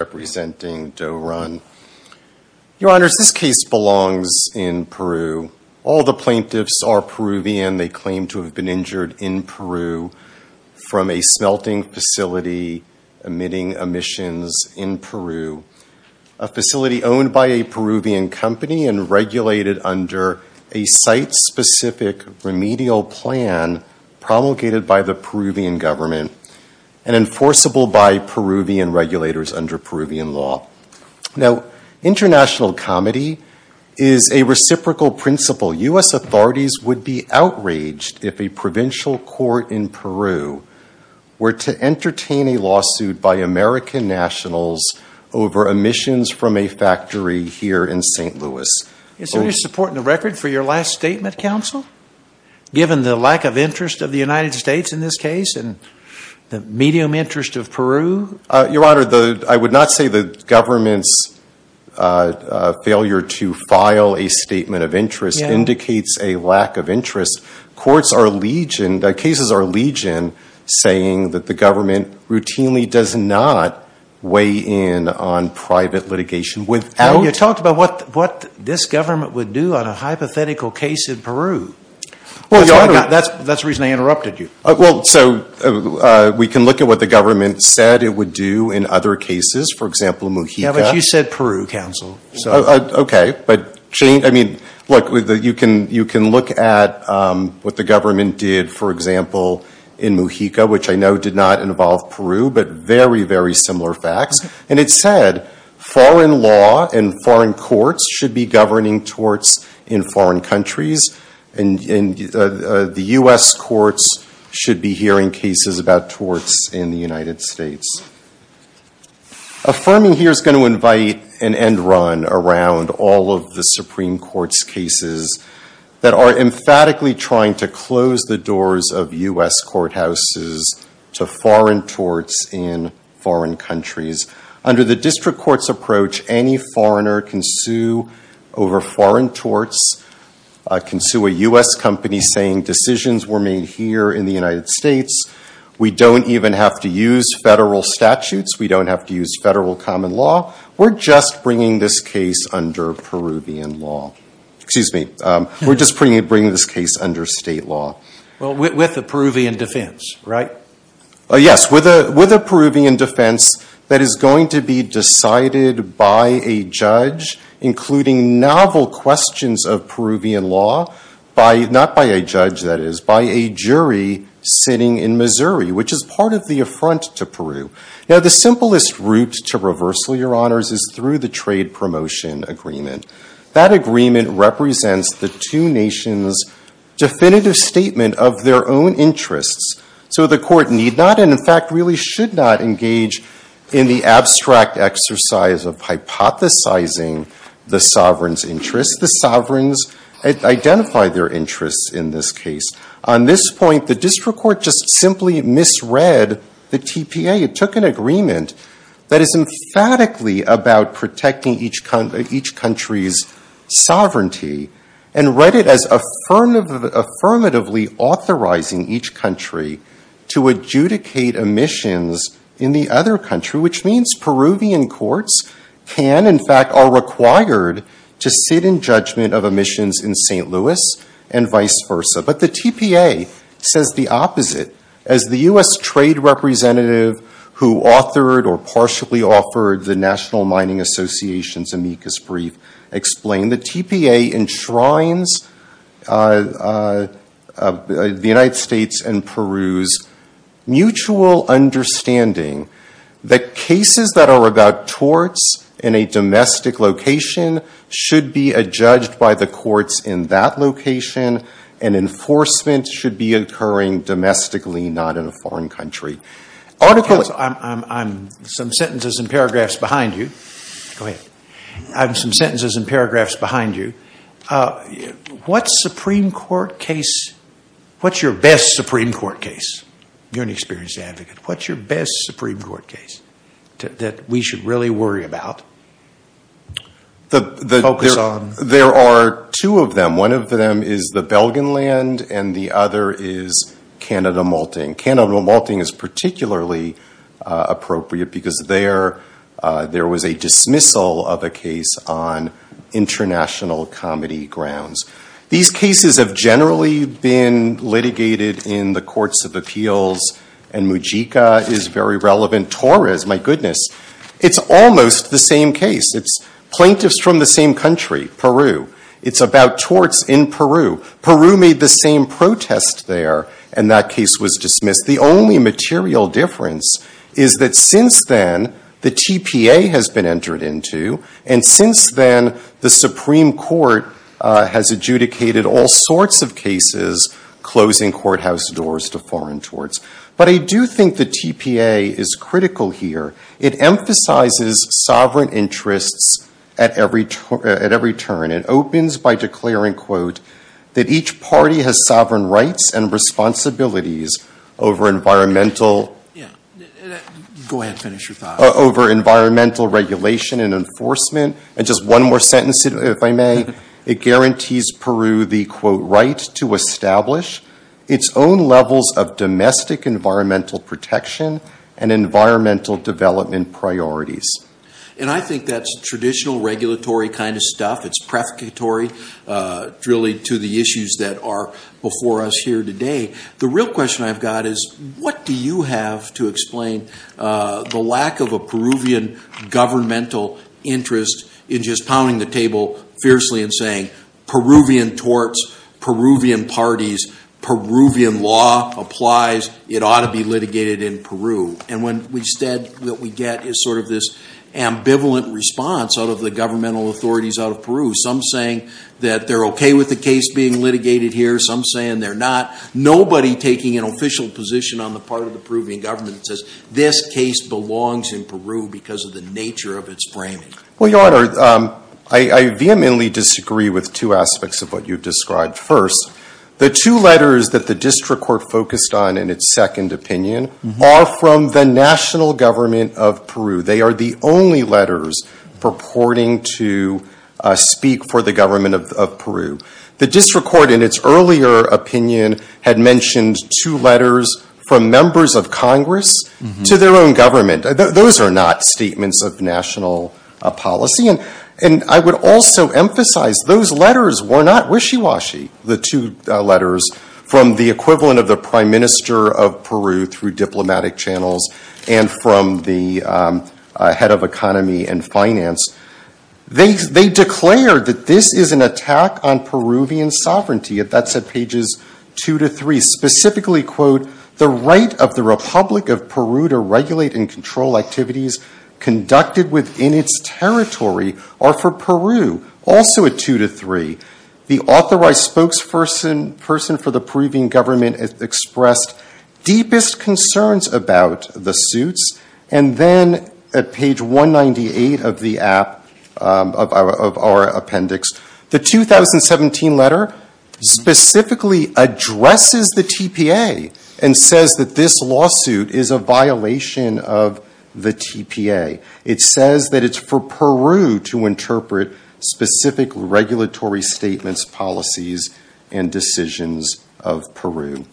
Your Honors, this case belongs in Peru. All the plaintiffs are Peruvian. They claim to have been injured in Peru from a smelting facility emitting emissions in Peru. A facility owned by a Peruvian company and regulated under a site-specific remedial plan promulgated by the Peruvian government and enforceable by Peruvian regulators under Peruvian law. Now, international comedy is a reciprocal principle. U.S. authorities would be outraged if a provincial court in Peru were to entertain a lawsuit by American nationals over emissions from a factory here in St. Louis. Is there any support in the record for your last statement, counsel? Given the lack of interest of the United States in this case and the medium interest of Peru? Your Honor, I would not say the government's failure to file a statement of interest indicates a lack of interest. Courts are legioned, cases are legioned, saying that the government routinely does not weigh in on private litigation without... That's the reason I interrupted you. Well, so we can look at what the government said it would do in other cases. For example, Mojica. Yeah, but you said Peru, counsel. Okay. But look, you can look at what the government did, for example, in Mojica, which I know did not involve Peru, but very, very similar facts. And it said foreign law and foreign courts should be governing torts in foreign countries and the U.S. courts should be hearing cases about torts in the United States. Affirming here is going to invite an end run around all of the Supreme Court's cases that are emphatically trying to close the doors of U.S. courthouses to foreign torts in foreign countries. Under the district court's approach, any foreigner can sue over foreign torts, can sue a U.S. company saying decisions were made here in the United States. We don't even have to use federal statutes. We don't have to use federal common law. We're just bringing this case under Peruvian law. Excuse me. We're just bringing this case under state law. Well, with a Peruvian defense, right? Yes, with a Peruvian defense that is going to be decided by a judge, including novel questions of Peruvian law, not by a judge, that is, by a jury sitting in Missouri, which is part of the affront to Peru. Now, the simplest route to reversal, Your Honors, is through the trade promotion agreement. That agreement represents the two nations' definitive statement of their own interests. So the court need not, and in fact really should not, engage in the abstract exercise of hypothesizing the sovereign's interests. The sovereigns identify their interests in this case. On this point, the district court just simply misread the TPA. It took an agreement that is emphatically about protecting each country's sovereignty and read it as affirmatively authorizing each country to adjudicate emissions in the other country, which means Peruvian courts can, in fact, are required to sit in judgment of emissions in St. Louis and vice versa. But the TPA says the opposite. As the US trade representative, who authored or partially offered the National Mining Association's amicus brief, explained, the TPA enshrines the United States and Peru's mutual understanding that cases that are about torts in a domestic location should be adjudged by the courts in that location, and enforcement should be occurring domestically, not in a foreign country. Article... I have some sentences and paragraphs behind you. Go ahead. I have some sentences and paragraphs behind you. What Supreme Court case... What's your best Supreme Court case? You're an experienced advocate. What's your best Supreme Court case that we should really worry about, focus on? There are two of them. One of them is the Belgenland, and the other is Canada Malting. Canada Malting is particularly appropriate because there was a dismissal of a case on international comedy grounds. These cases have generally been litigated in the courts of appeals, and Mujica is very relevant. Torres, my goodness. It's almost the same case. It's plaintiffs from the same country, Peru. It's about torts in Peru. Peru made the same protest there, and that case was dismissed. The only material difference is that since then, the TPA has been entered into, and since then, the Supreme Court has adjudicated all sorts of cases, closing courthouse doors to foreign torts. But I do think the TPA is critical here. It emphasizes sovereign interests at every turn. It opens by declaring, quote, that each party has sovereign rights and responsibilities over environmental regulation and enforcement. And just one more sentence, if I may. It guarantees Peru the, quote, right to establish its own levels of domestic environmental protection and environmental development priorities. And I think that's traditional regulatory kind of stuff. It's prefatory, really, to the issues that are before us here today. The real question I've got is what do you have to explain the lack of a Peruvian governmental interest in just pounding the table fiercely and saying Peruvian torts, Peruvian parties, Peruvian law applies. It ought to be litigated in Peru. And when we said what we get is sort of this ambivalent response out of the governmental authorities out of Peru. Some saying that they're OK with the case being litigated here. Some saying they're not. Nobody taking an official position on the part of the Peruvian government says, this case belongs in Peru because of the nature of its framing. Well, Your Honor, I vehemently disagree with two aspects of what you've described. First, the two letters that the district court focused on in its second opinion are from the national government of Peru. They are the only letters purporting to speak for the government of Peru. The district court in its earlier opinion had mentioned two letters from members of Congress to their own government. Those are not statements of national policy. And I would also emphasize those letters were not wishy-washy, the two letters from the equivalent of the prime minister of Peru through diplomatic channels and from the head of economy and finance. They declared that this is an attack on Peruvian sovereignty. That's at pages two to three. Specifically, quote, the right of the Republic of Peru to regulate and control activities conducted within its territory are for Peru. Also at two to three, the authorized spokesperson for the Peruvian government expressed deepest concerns about the suits. And then at page 198 of the app, of our appendix, the 2017 letter specifically addresses the TPA and says that this lawsuit is a violation of the TPA. It says that it's for Peru to interpret specific regulatory statements, policies, and decisions of Peru.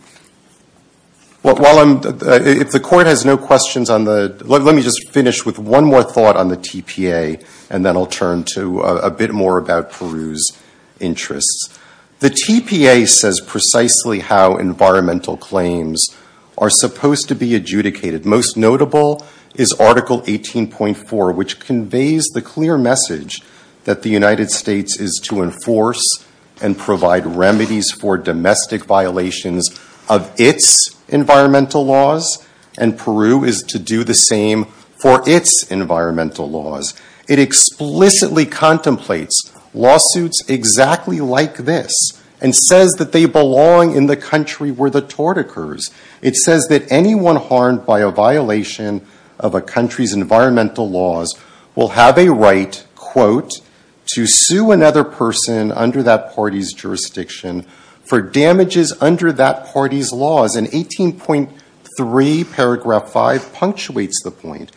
While I'm, if the court has no questions on the, let me just finish with one more thought on the TPA and then I'll turn to a bit more about Peru's interests. The TPA says precisely how environmental claims are supposed to be adjudicated. Most notable is Article 18.4, which conveys the clear message that the United States is to enforce and provide remedies for domestic violations of its environmental laws. And Peru is to do the same for its environmental laws. It explicitly contemplates lawsuits exactly like this and says that they belong in the country where the tort occurs. It says that anyone harmed by a violation of a country's environmental laws will have a right, quote, to sue another person under that party's jurisdiction for damages under that party's laws. And 18.3 paragraph 5 punctuates the point.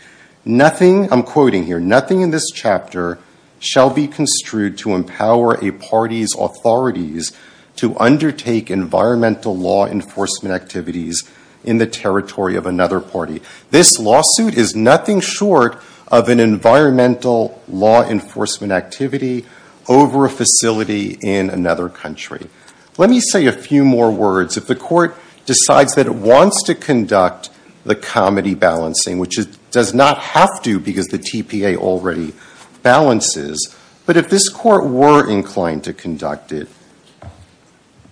Nothing, I'm quoting here, nothing in this chapter shall be construed to empower a party's authorities to undertake environmental law enforcement activities in the territory of another party. This lawsuit is nothing short of an environmental law enforcement activity over a facility in another country. Let me say a few more words. If the court decides that it wants to conduct the comedy balancing, which it does not have to because the TPA already balances, but if this court were inclined to conduct it,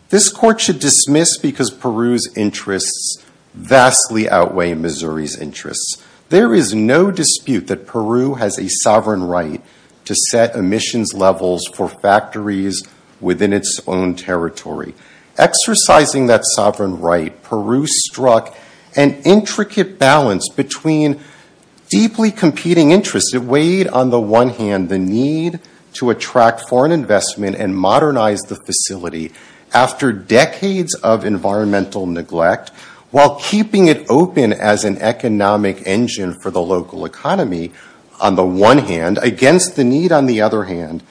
this court should dismiss because Peru's interests vastly outweigh Missouri's interests. There is no dispute that Peru has a sovereign right to set emissions levels for factories within its own territory. Exercising that sovereign right, Peru struck an intricate balance between deeply competing interests. It weighed on the one hand the need to attract foreign investment and modernize the facility after decades of environmental neglect while keeping it open as an economic engine for the local economy on the one hand against the need on the other hand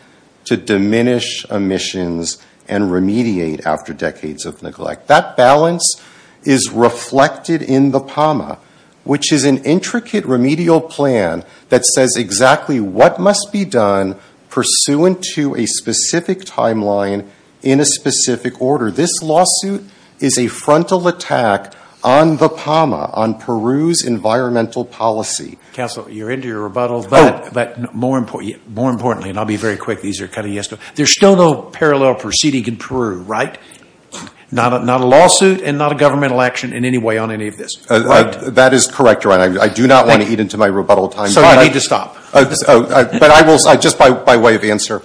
to diminish emissions and remediate after decades of neglect. That balance is reflected in the PAMA, which is an intricate remedial plan that says exactly what must be done pursuant to a specific timeline in a specific order. This lawsuit is a frontal attack on the PAMA, on Peru's environmental policy. Council, you're into your rebuttal, but more importantly, and I'll be very quick, these are kind of yes, there's still no parallel proceeding in Peru, right? Not a lawsuit and not a governmental action in any way on any of this, right? That is correct, Your Honor. I do not want to eat into my rebuttal time. So you need to stop. But I will, just by way of answer,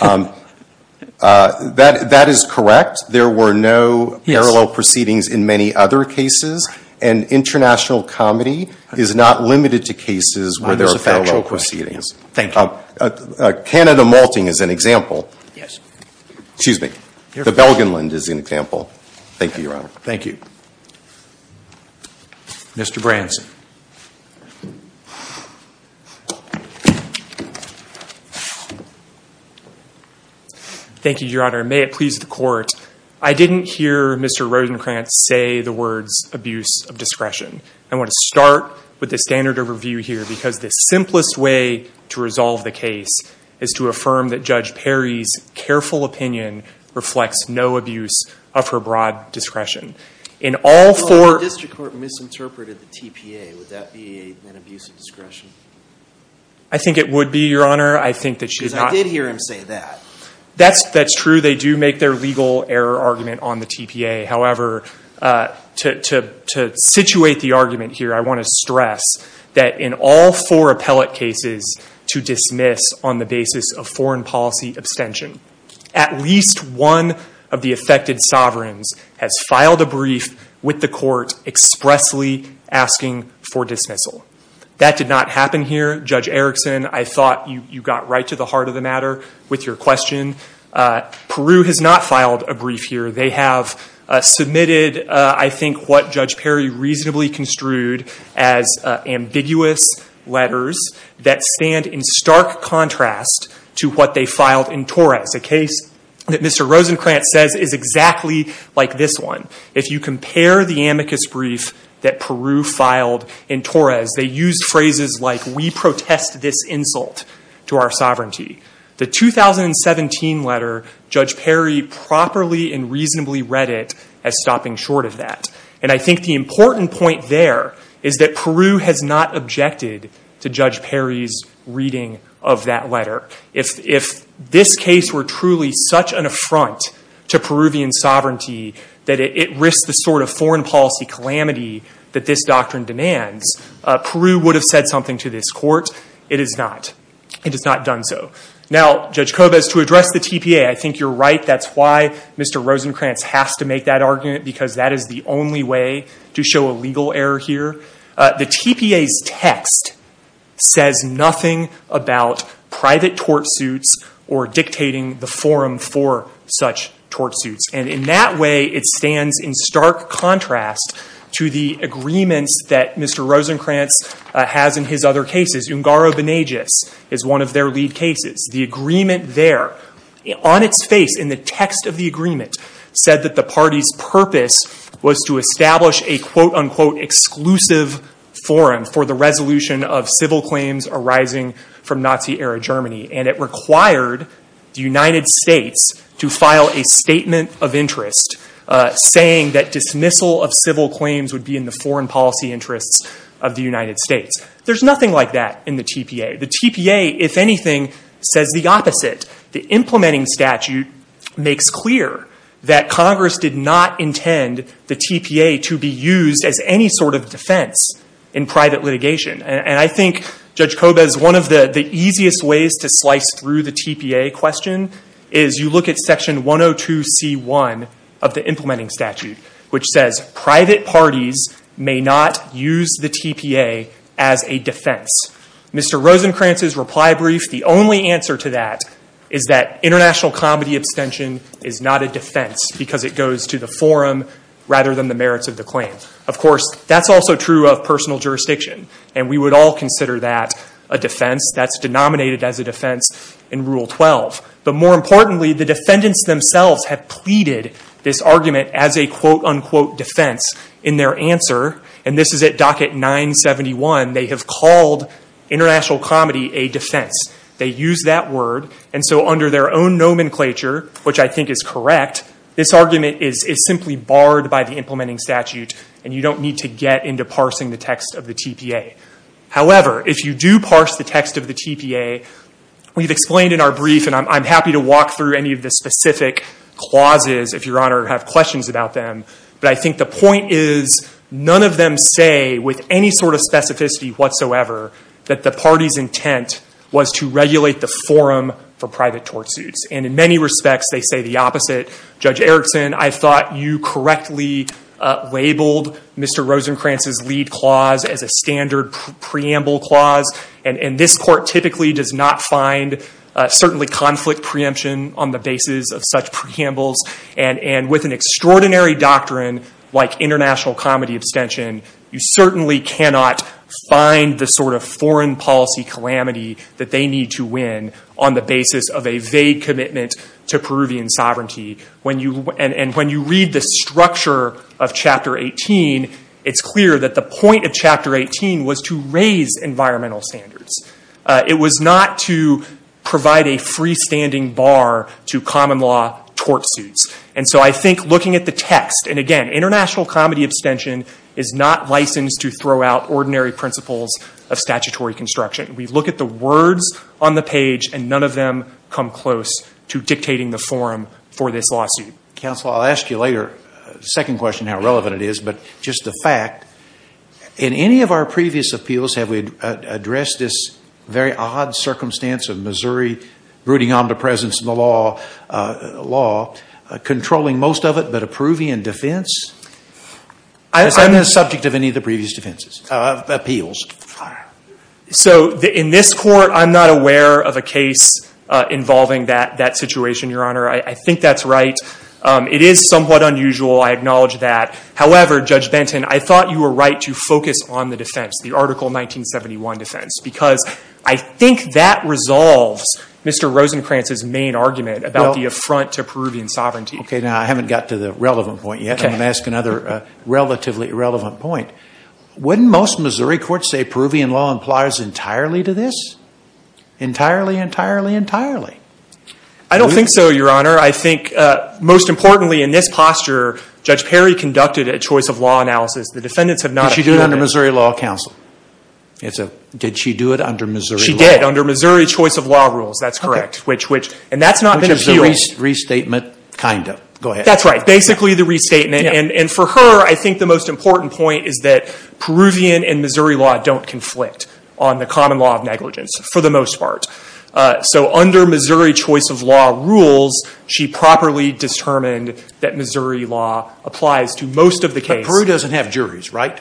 that is correct. There were no parallel proceedings in many other cases, and international comedy is not limited to cases where there are parallel proceedings. Thank you. Canada malting is an example. Yes. Excuse me. The Belgenland is an example. Thank you, Your Honor. Thank you. Mr. Branson. Thank you, Your Honor. May it please the court. I didn't hear Mr. Rosenkranz say the words abuse of discretion. I want to start with the standard of review here, because the simplest way to resolve the case is to affirm that Judge Perry's careful opinion reflects no abuse of her broad discretion. In all four- If the district court misinterpreted the TPA, would that be an abuse of discretion? I think it would be, Your Honor. I think that she's not. Because I did hear him say that. That's true. They do make their legal error argument on the TPA. However, to situate the argument here, I want to stress that in all four appellate cases to dismiss on the basis of foreign policy abstention, at least one of the affected sovereigns has filed a brief with the court expressly asking for dismissal. That did not happen here, Judge Erickson. I thought you got right to the heart of the matter with your question. Peru has not filed a brief here. They have submitted, I think, what Judge Perry reasonably construed as ambiguous letters that stand in stark contrast to what they filed in Torres, a case that Mr. Rosencrantz says is exactly like this one. If you compare the amicus brief that Peru filed in Torres, they used phrases like, we protest this insult to our sovereignty. The 2017 letter, Judge Perry properly and reasonably read it as stopping short of that. And I think the important point there is that Peru has not objected to Judge Perry's reading of that letter. If this case were truly such an affront to Peruvian sovereignty that it risks the sort of foreign policy calamity that this doctrine demands, Peru would have said something to this court. It has not. It has not done so. Now, Judge Kobes, to address the TPA, I think you're right. That's why Mr. Rosencrantz has to make that argument, because that is the only way to show a legal error here. The TPA's text says nothing about private tortsuits or dictating the forum for such tortsuits. And in that way, it stands in stark contrast to the agreements that Mr. Rosencrantz has in his other cases. Ungaro-Benegis is one of their lead cases. The agreement there, on its face, in the text of the agreement, said that the party's purpose was to establish a quote, unquote, exclusive forum for the resolution of civil claims arising from Nazi-era Germany. And it required the United States to file a statement of interest saying that dismissal of civil claims would be in the foreign policy interests of the United States. There's nothing like that in the TPA. The TPA, if anything, says the opposite. The implementing statute makes clear that Congress did not intend the TPA to be used as any sort of defense in private litigation. And I think, Judge Kobes, one of the easiest ways to slice through the TPA question is you look at section 102c1 of the implementing statute, which says private parties may not use the TPA as a defense. Mr. Rosencrantz's reply brief, the only answer to that is that international comedy abstention is not a defense because it goes to the forum rather than the merits of the claim. Of course, that's also true of personal jurisdiction. And we would all consider that a defense. That's denominated as a defense in Rule 12. But more importantly, the defendants themselves have pleaded this argument as a quote, unquote, defense in their answer. And this is at docket 971. They have called international comedy a defense. They use that word. And so under their own nomenclature, which I think is correct, this argument is simply barred by the implementing statute. And you don't need to get into parsing the text of the TPA. However, if you do parse the text of the TPA, we've explained in our brief, and I'm happy to walk through any of the specific clauses if your honor have questions about them. But I think the point is none of them say with any sort of specificity whatsoever that the party's intent was to regulate the forum for private tort suits. And in many respects, they say the opposite. Judge Erickson, I thought you correctly labeled Mr. Rosenkranz's lead clause as a standard preamble clause. And this court typically does not find certainly conflict preemption on the basis of such preambles. And with an extraordinary doctrine like international comedy abstention, you certainly cannot find the sort of foreign policy calamity that they need to win on the basis of a vague commitment to Peruvian sovereignty. And when you read the structure of chapter 18, it's clear that the point of chapter 18 was to raise environmental standards. It was not to provide a freestanding bar to common law tort suits. And so I think looking at the text, and again, international comedy abstention is not licensed to throw out ordinary principles of statutory construction. We look at the words on the page, and none of them come close to dictating the forum for this lawsuit. Counsel, I'll ask you later, second question, how relevant it is, but just the fact, in any of our previous appeals, have we addressed this very odd circumstance of Missouri brooding omnipresence in the law, controlling most of it, but a Peruvian defense? I'm the subject of any of the previous defenses, appeals. Fire. So in this court, I'm not aware of a case involving that situation, Your Honor. I think that's right. It is somewhat unusual. I acknowledge that. However, Judge Benton, I thought you were right to focus on the defense, the article 1971 defense, because I think that resolves Mr. Rosencrantz's main argument about the affront to Peruvian sovereignty. OK, now, I haven't got to the relevant point yet. I'm going to ask another relatively irrelevant point. Wouldn't most Missouri courts say Peruvian law implies entirely to this? Entirely, entirely, entirely. I don't think so, Your Honor. I think, most importantly, in this posture, Judge Perry conducted a choice of law analysis. The defendants have not appealed. Did she do it under Missouri Law Council? Did she do it under Missouri Law? She did, under Missouri Choice of Law rules, that's correct. And that's not been appealed. Which is a restatement, kind of. Go ahead. That's right, basically the restatement. And for her, I think the most important point is that Peruvian and Missouri law don't conflict on the common law of negligence, for the most part. So under Missouri Choice of Law rules, she properly determined that Missouri law applies to most of the case. But Peru doesn't have juries, right?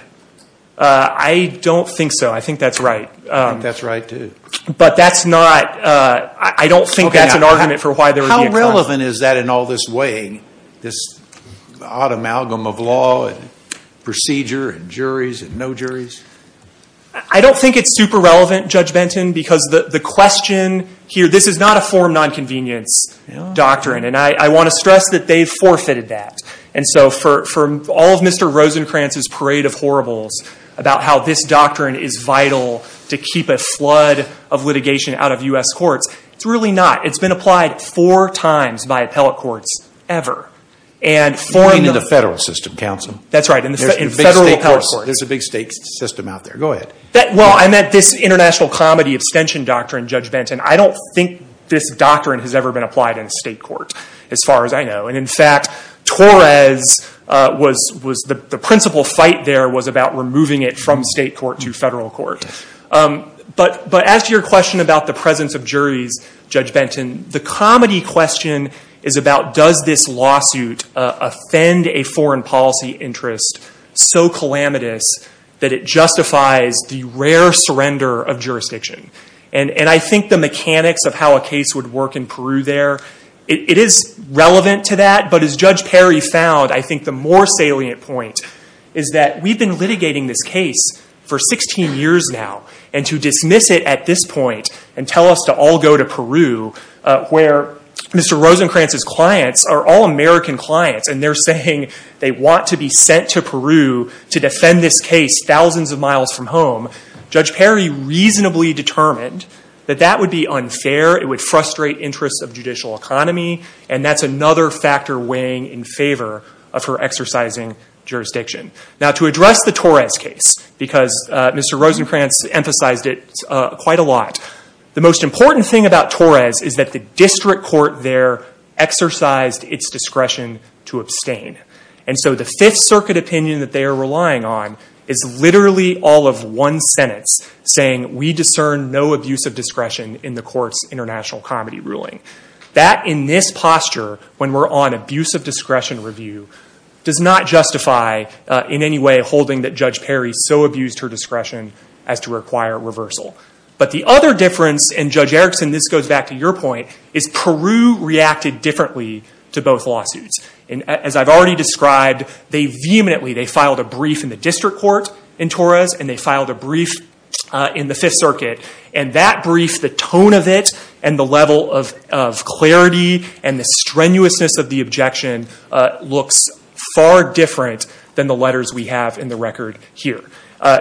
I don't think so. I think that's right. I think that's right, too. But that's not, I don't think that's an argument for why there would be a court. How relevant is that in all this way, this odd amalgam of law, and procedure, and juries, and no juries? I don't think it's super relevant, Judge Benton, because the question here, this is not a form non-convenience doctrine. And I want to stress that they've forfeited that. And so for all of Mr. Rosencrantz's parade of horribles about how this doctrine is vital to keep a flood of litigation out of US courts, it's really not. It's been applied four times by appellate courts ever. And four in the federal system, counsel. That's right, in federal appellate courts. There's a big state system out there. Go ahead. Well, I meant this international comedy abstention doctrine, Judge Benton. I don't think this doctrine has ever been applied in state court, as far as I know. And in fact, Torres was, the principal fight there was about removing it from state court to federal court. But as to your question about the presence of juries, Judge Benton, the comedy question is about does this lawsuit offend a foreign policy interest so calamitous that it justifies the rare surrender of jurisdiction. And I think the mechanics of how a case would work in Peru there, it is relevant to that. But as Judge Perry found, I think the more salient point is that we've been litigating this case for 16 years now. And to dismiss it at this point and tell us to all go to Peru, where Mr. Rosenkranz's clients are all American clients, and they're saying they want to be sent to Peru to defend this case thousands of miles from home, Judge Perry reasonably determined that that would be unfair. It would frustrate interests of judicial economy. And that's another factor weighing in favor of her exercising jurisdiction. Now, to address the Torres case, because Mr. Rosenkranz emphasized it quite a lot, the most important thing about Torres is that the district court there exercised its discretion to abstain. And so the Fifth Circuit opinion that they are relying on is literally all of one sentence saying, we discern no abuse of discretion in the court's international comedy ruling. That, in this posture, when we're on abuse of discretion review, does not justify in any way holding that Judge Perry so abused her discretion as to require reversal. But the other difference, and Judge Erickson, this goes back to your point, is Peru reacted differently to both lawsuits. And as I've already described, they vehemently, they filed a brief in the district court in Torres, and they filed a brief in the Fifth Circuit. And that brief, the tone of it, and the level of clarity, and the strenuousness of the objection looks far different than the letters we have in the record here.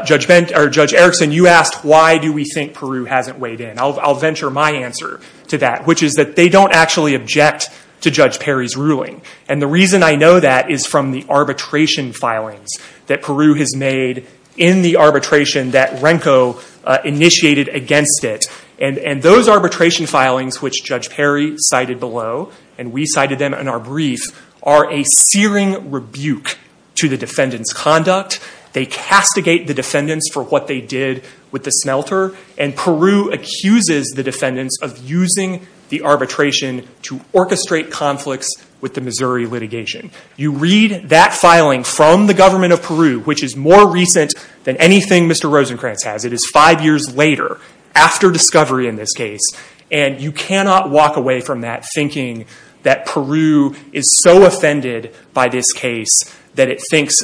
Judge Erickson, you asked, why do we think Peru hasn't weighed in? I'll venture my answer to that, which is that they don't actually object to Judge Perry's ruling. And the reason I know that is from the arbitration filings that Peru has made in the arbitration that Renko initiated against it. And those arbitration filings, which Judge Perry cited below, and we cited them in our brief, are a searing rebuke to the defendant's conduct. They castigate the defendants for what they did with the smelter. And Peru accuses the defendants of using the arbitration to orchestrate conflicts with the Missouri litigation. You read that filing from the government of Peru, which is more recent than anything Mr. Rosenkranz has. It is five years later, after discovery in this case. And you cannot walk away from that thinking that Peru is so offended by this case that it thinks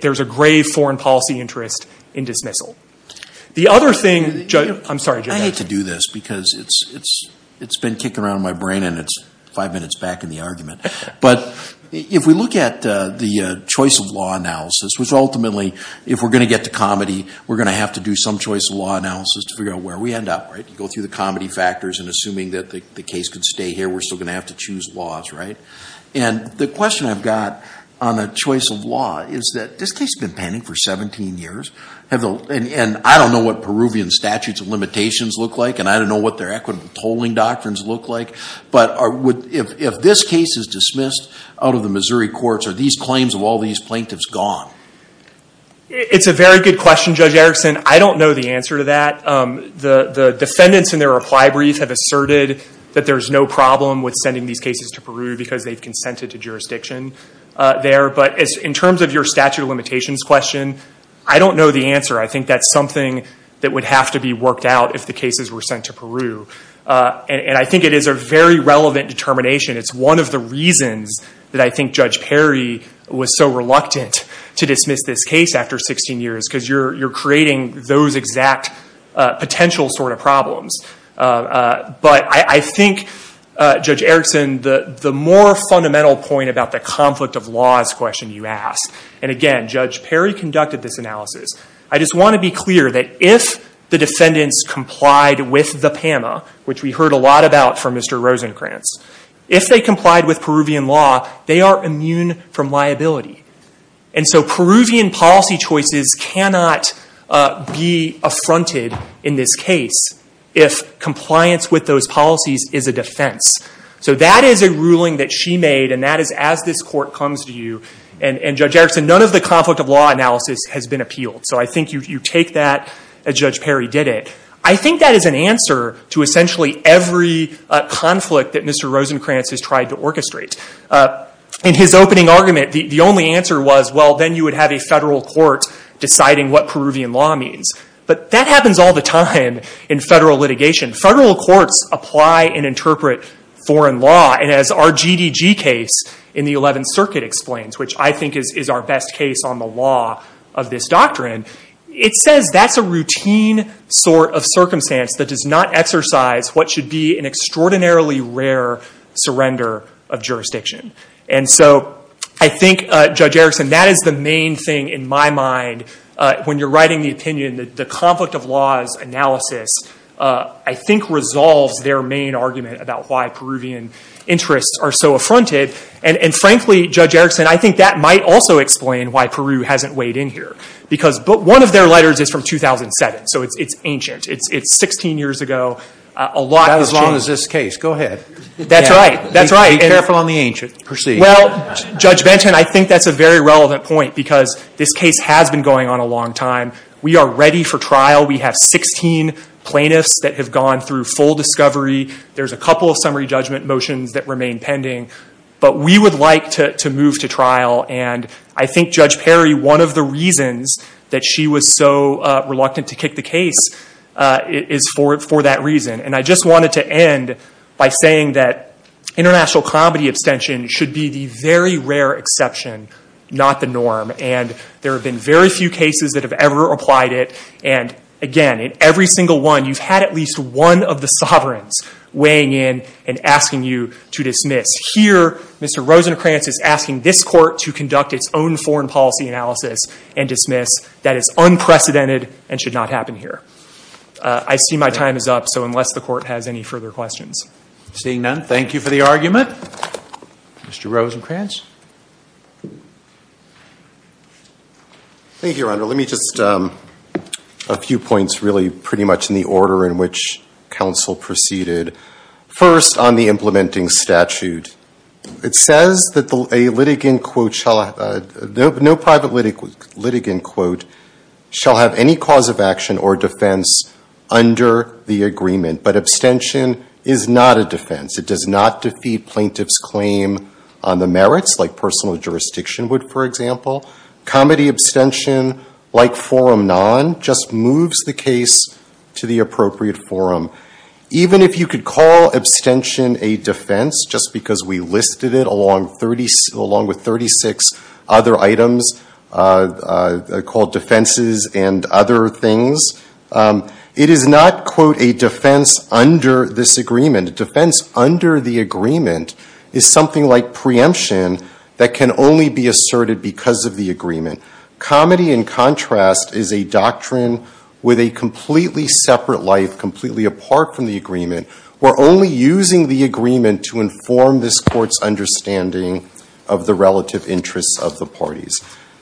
there's a grave foreign policy interest in dismissal. The other thing, I'm sorry, Judge. I hate to do this, because it's been kicking around in my brain and it's five minutes back in the argument. But if we look at the choice of law analysis, which ultimately, if we're going to get to comedy, we're going to have to do some choice of law analysis to figure out where we end up. You go through the comedy factors and assuming that the case could stay here, we're still going to have to choose laws. And the question I've got on the choice of law is that this case has been pending for 17 years. And I don't know what Peruvian statutes of limitations look like, and I don't know what their equitable tolling doctrines look like. But if this case is dismissed out of the Missouri courts, are these claims of all these plaintiffs gone? It's a very good question, Judge Erickson. I don't know the answer to that. The defendants in their reply brief have asserted that there is no problem with sending these cases to Peru because they've consented to jurisdiction there. But in terms of your statute of limitations question, I don't know the answer. I think that's something that would have to be worked out if the cases were sent to Peru. And I think it is a very relevant determination. It's one of the reasons that I think Judge Perry was so reluctant to dismiss this case after 16 years, because you're creating those exact potential sort of problems. But I think, Judge Erickson, the more fundamental point about the conflict of laws question you ask, and again, Judge Perry conducted this analysis. I just want to be clear that if the defendants complied with the PAMA, which we heard a lot about from Mr. Rosenkranz, if they complied with Peruvian law, they are immune from liability. And so Peruvian policy choices cannot be affronted in this case if compliance with those policies is a defense. So that is a ruling that she made, and that is as this court comes to you. And Judge Erickson, none of the conflict of law analysis has been appealed. So I think you take that as Judge Perry did it. I think that is an answer to essentially every conflict that Mr. Rosenkranz has tried to orchestrate. In his opening argument, the only answer was, well, then you would have a federal court deciding what Peruvian law means. But that happens all the time in federal litigation. Federal courts apply and interpret foreign law. And as our GDG case in the 11th Circuit explains, which I think is our best case on the law of this doctrine, it says that's a routine sort of circumstance that does not exercise what should be an extraordinarily rare surrender of jurisdiction. And so I think, Judge Erickson, that is the main thing in my mind when you're writing the opinion that the conflict of laws analysis, I think, resolves their main argument about why Peruvian interests are so affronted. And frankly, Judge Erickson, I think that might also explain why Peru hasn't weighed in here. But one of their letters is from 2007. So it's ancient. It's 16 years ago. A lot has changed. That's as long as this case. Go ahead. That's right. That's right. Be careful on the ancient. Proceed. Well, Judge Benton, I think that's a very relevant point because this case has been going on a long time. We are ready for trial. We have 16 plaintiffs that have gone through full discovery. There's a couple of summary judgment motions that remain pending. But we would like to move to trial. And I think Judge Perry, one of the reasons that she was so reluctant to kick the case is for that reason. And I just wanted to end by saying that international comedy abstention should be the very rare exception, not the norm. And there have been very few cases that have ever applied it. And again, in every single one, you've had at least one of the sovereigns weighing in and asking you to dismiss. Here, Mr. Rosenkranz is asking this court to conduct its own foreign policy analysis and dismiss. That is unprecedented and should not happen here. I see my time is up, so unless the court has any further questions. Seeing none, thank you for the argument. Mr. Rosenkranz. Thank you, Your Honor. Let me just, a few points really pretty much in the order in which counsel proceeded. First, on the implementing statute. It says that a litigant quote shall, no private litigant quote, shall have any cause of action or defense under the agreement. But abstention is not a defense. It does not defeat plaintiff's claim on the merits, like personal jurisdiction would, for example. Comedy abstention, like forum non, just moves the case to the appropriate forum. Even if you could call abstention a defense, just because we listed it along with 36 other items called defenses and other things, it is not, quote, a defense under this agreement. A defense under the agreement is something like preemption that can only be asserted because of the agreement. Comedy, in contrast, is a doctrine with a completely separate life, completely apart from the agreement. We're only using the agreement to inform this court's understanding of the relative interests of the parties.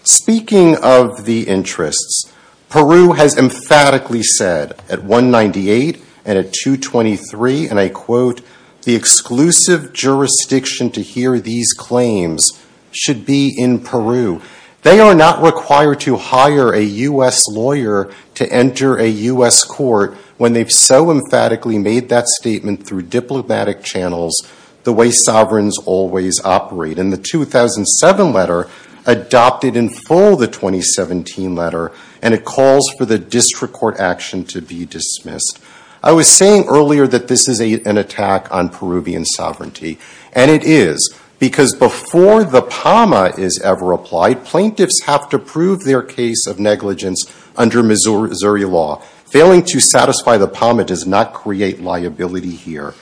Speaking of the interests, Peru has emphatically said at 198 and at 223, and I quote, the exclusive jurisdiction to hear these claims should be in Peru. They are not required to hire a US lawyer to enter a US court when they've so emphatically made that statement through diplomatic channels the way sovereigns always operate. And the 2007 letter adopted in full the 2017 letter, and it calls for the district court action to be dismissed. I was saying earlier that this is an attack on Peruvian sovereignty. And it is, because before the PAMA is ever applied, plaintiffs have to prove their case of negligence under Missouri law. Failing to satisfy the PAMA does not create liability here.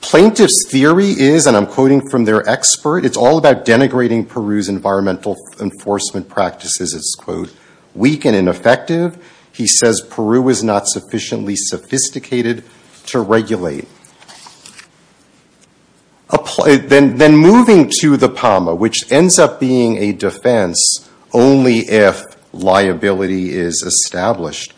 Plaintiff's theory is, and I'm quoting from their expert, it's all about denigrating Peru's environmental enforcement practices. It's, quote, weak and ineffective. He says Peru is not sufficiently sophisticated to regulate. Then moving to the PAMA, which ends up being a defense only if liability is established.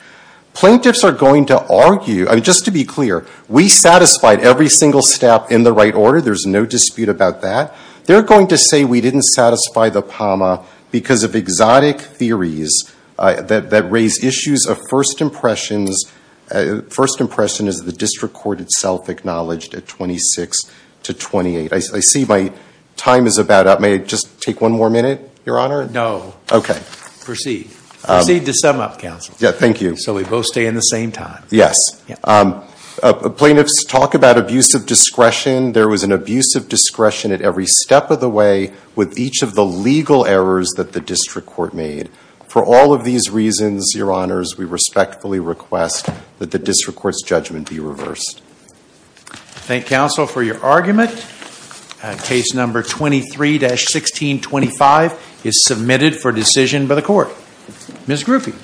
Plaintiffs are going to argue, just to be clear, we satisfied every single step in the right order. There's no dispute about that. They're going to say we didn't satisfy the PAMA because of exotic theories that raise issues of first impressions. First impression is the district court itself acknowledged at 26 to 28. I see my time is about up. May I just take one more minute, Your Honor? No. OK. Proceed. Proceed to sum up, counsel. Yeah, thank you. So we both stay in the same time. Yes. Plaintiffs talk about abuse of discretion. There was an abuse of discretion at every step of the way with each of the legal errors that the district court made. For all of these reasons, Your Honors, we respectfully request that the district court's judgment be reversed. Thank counsel for your argument. Case number 23-1625 is submitted for decision by the court. Ms. Gruffy.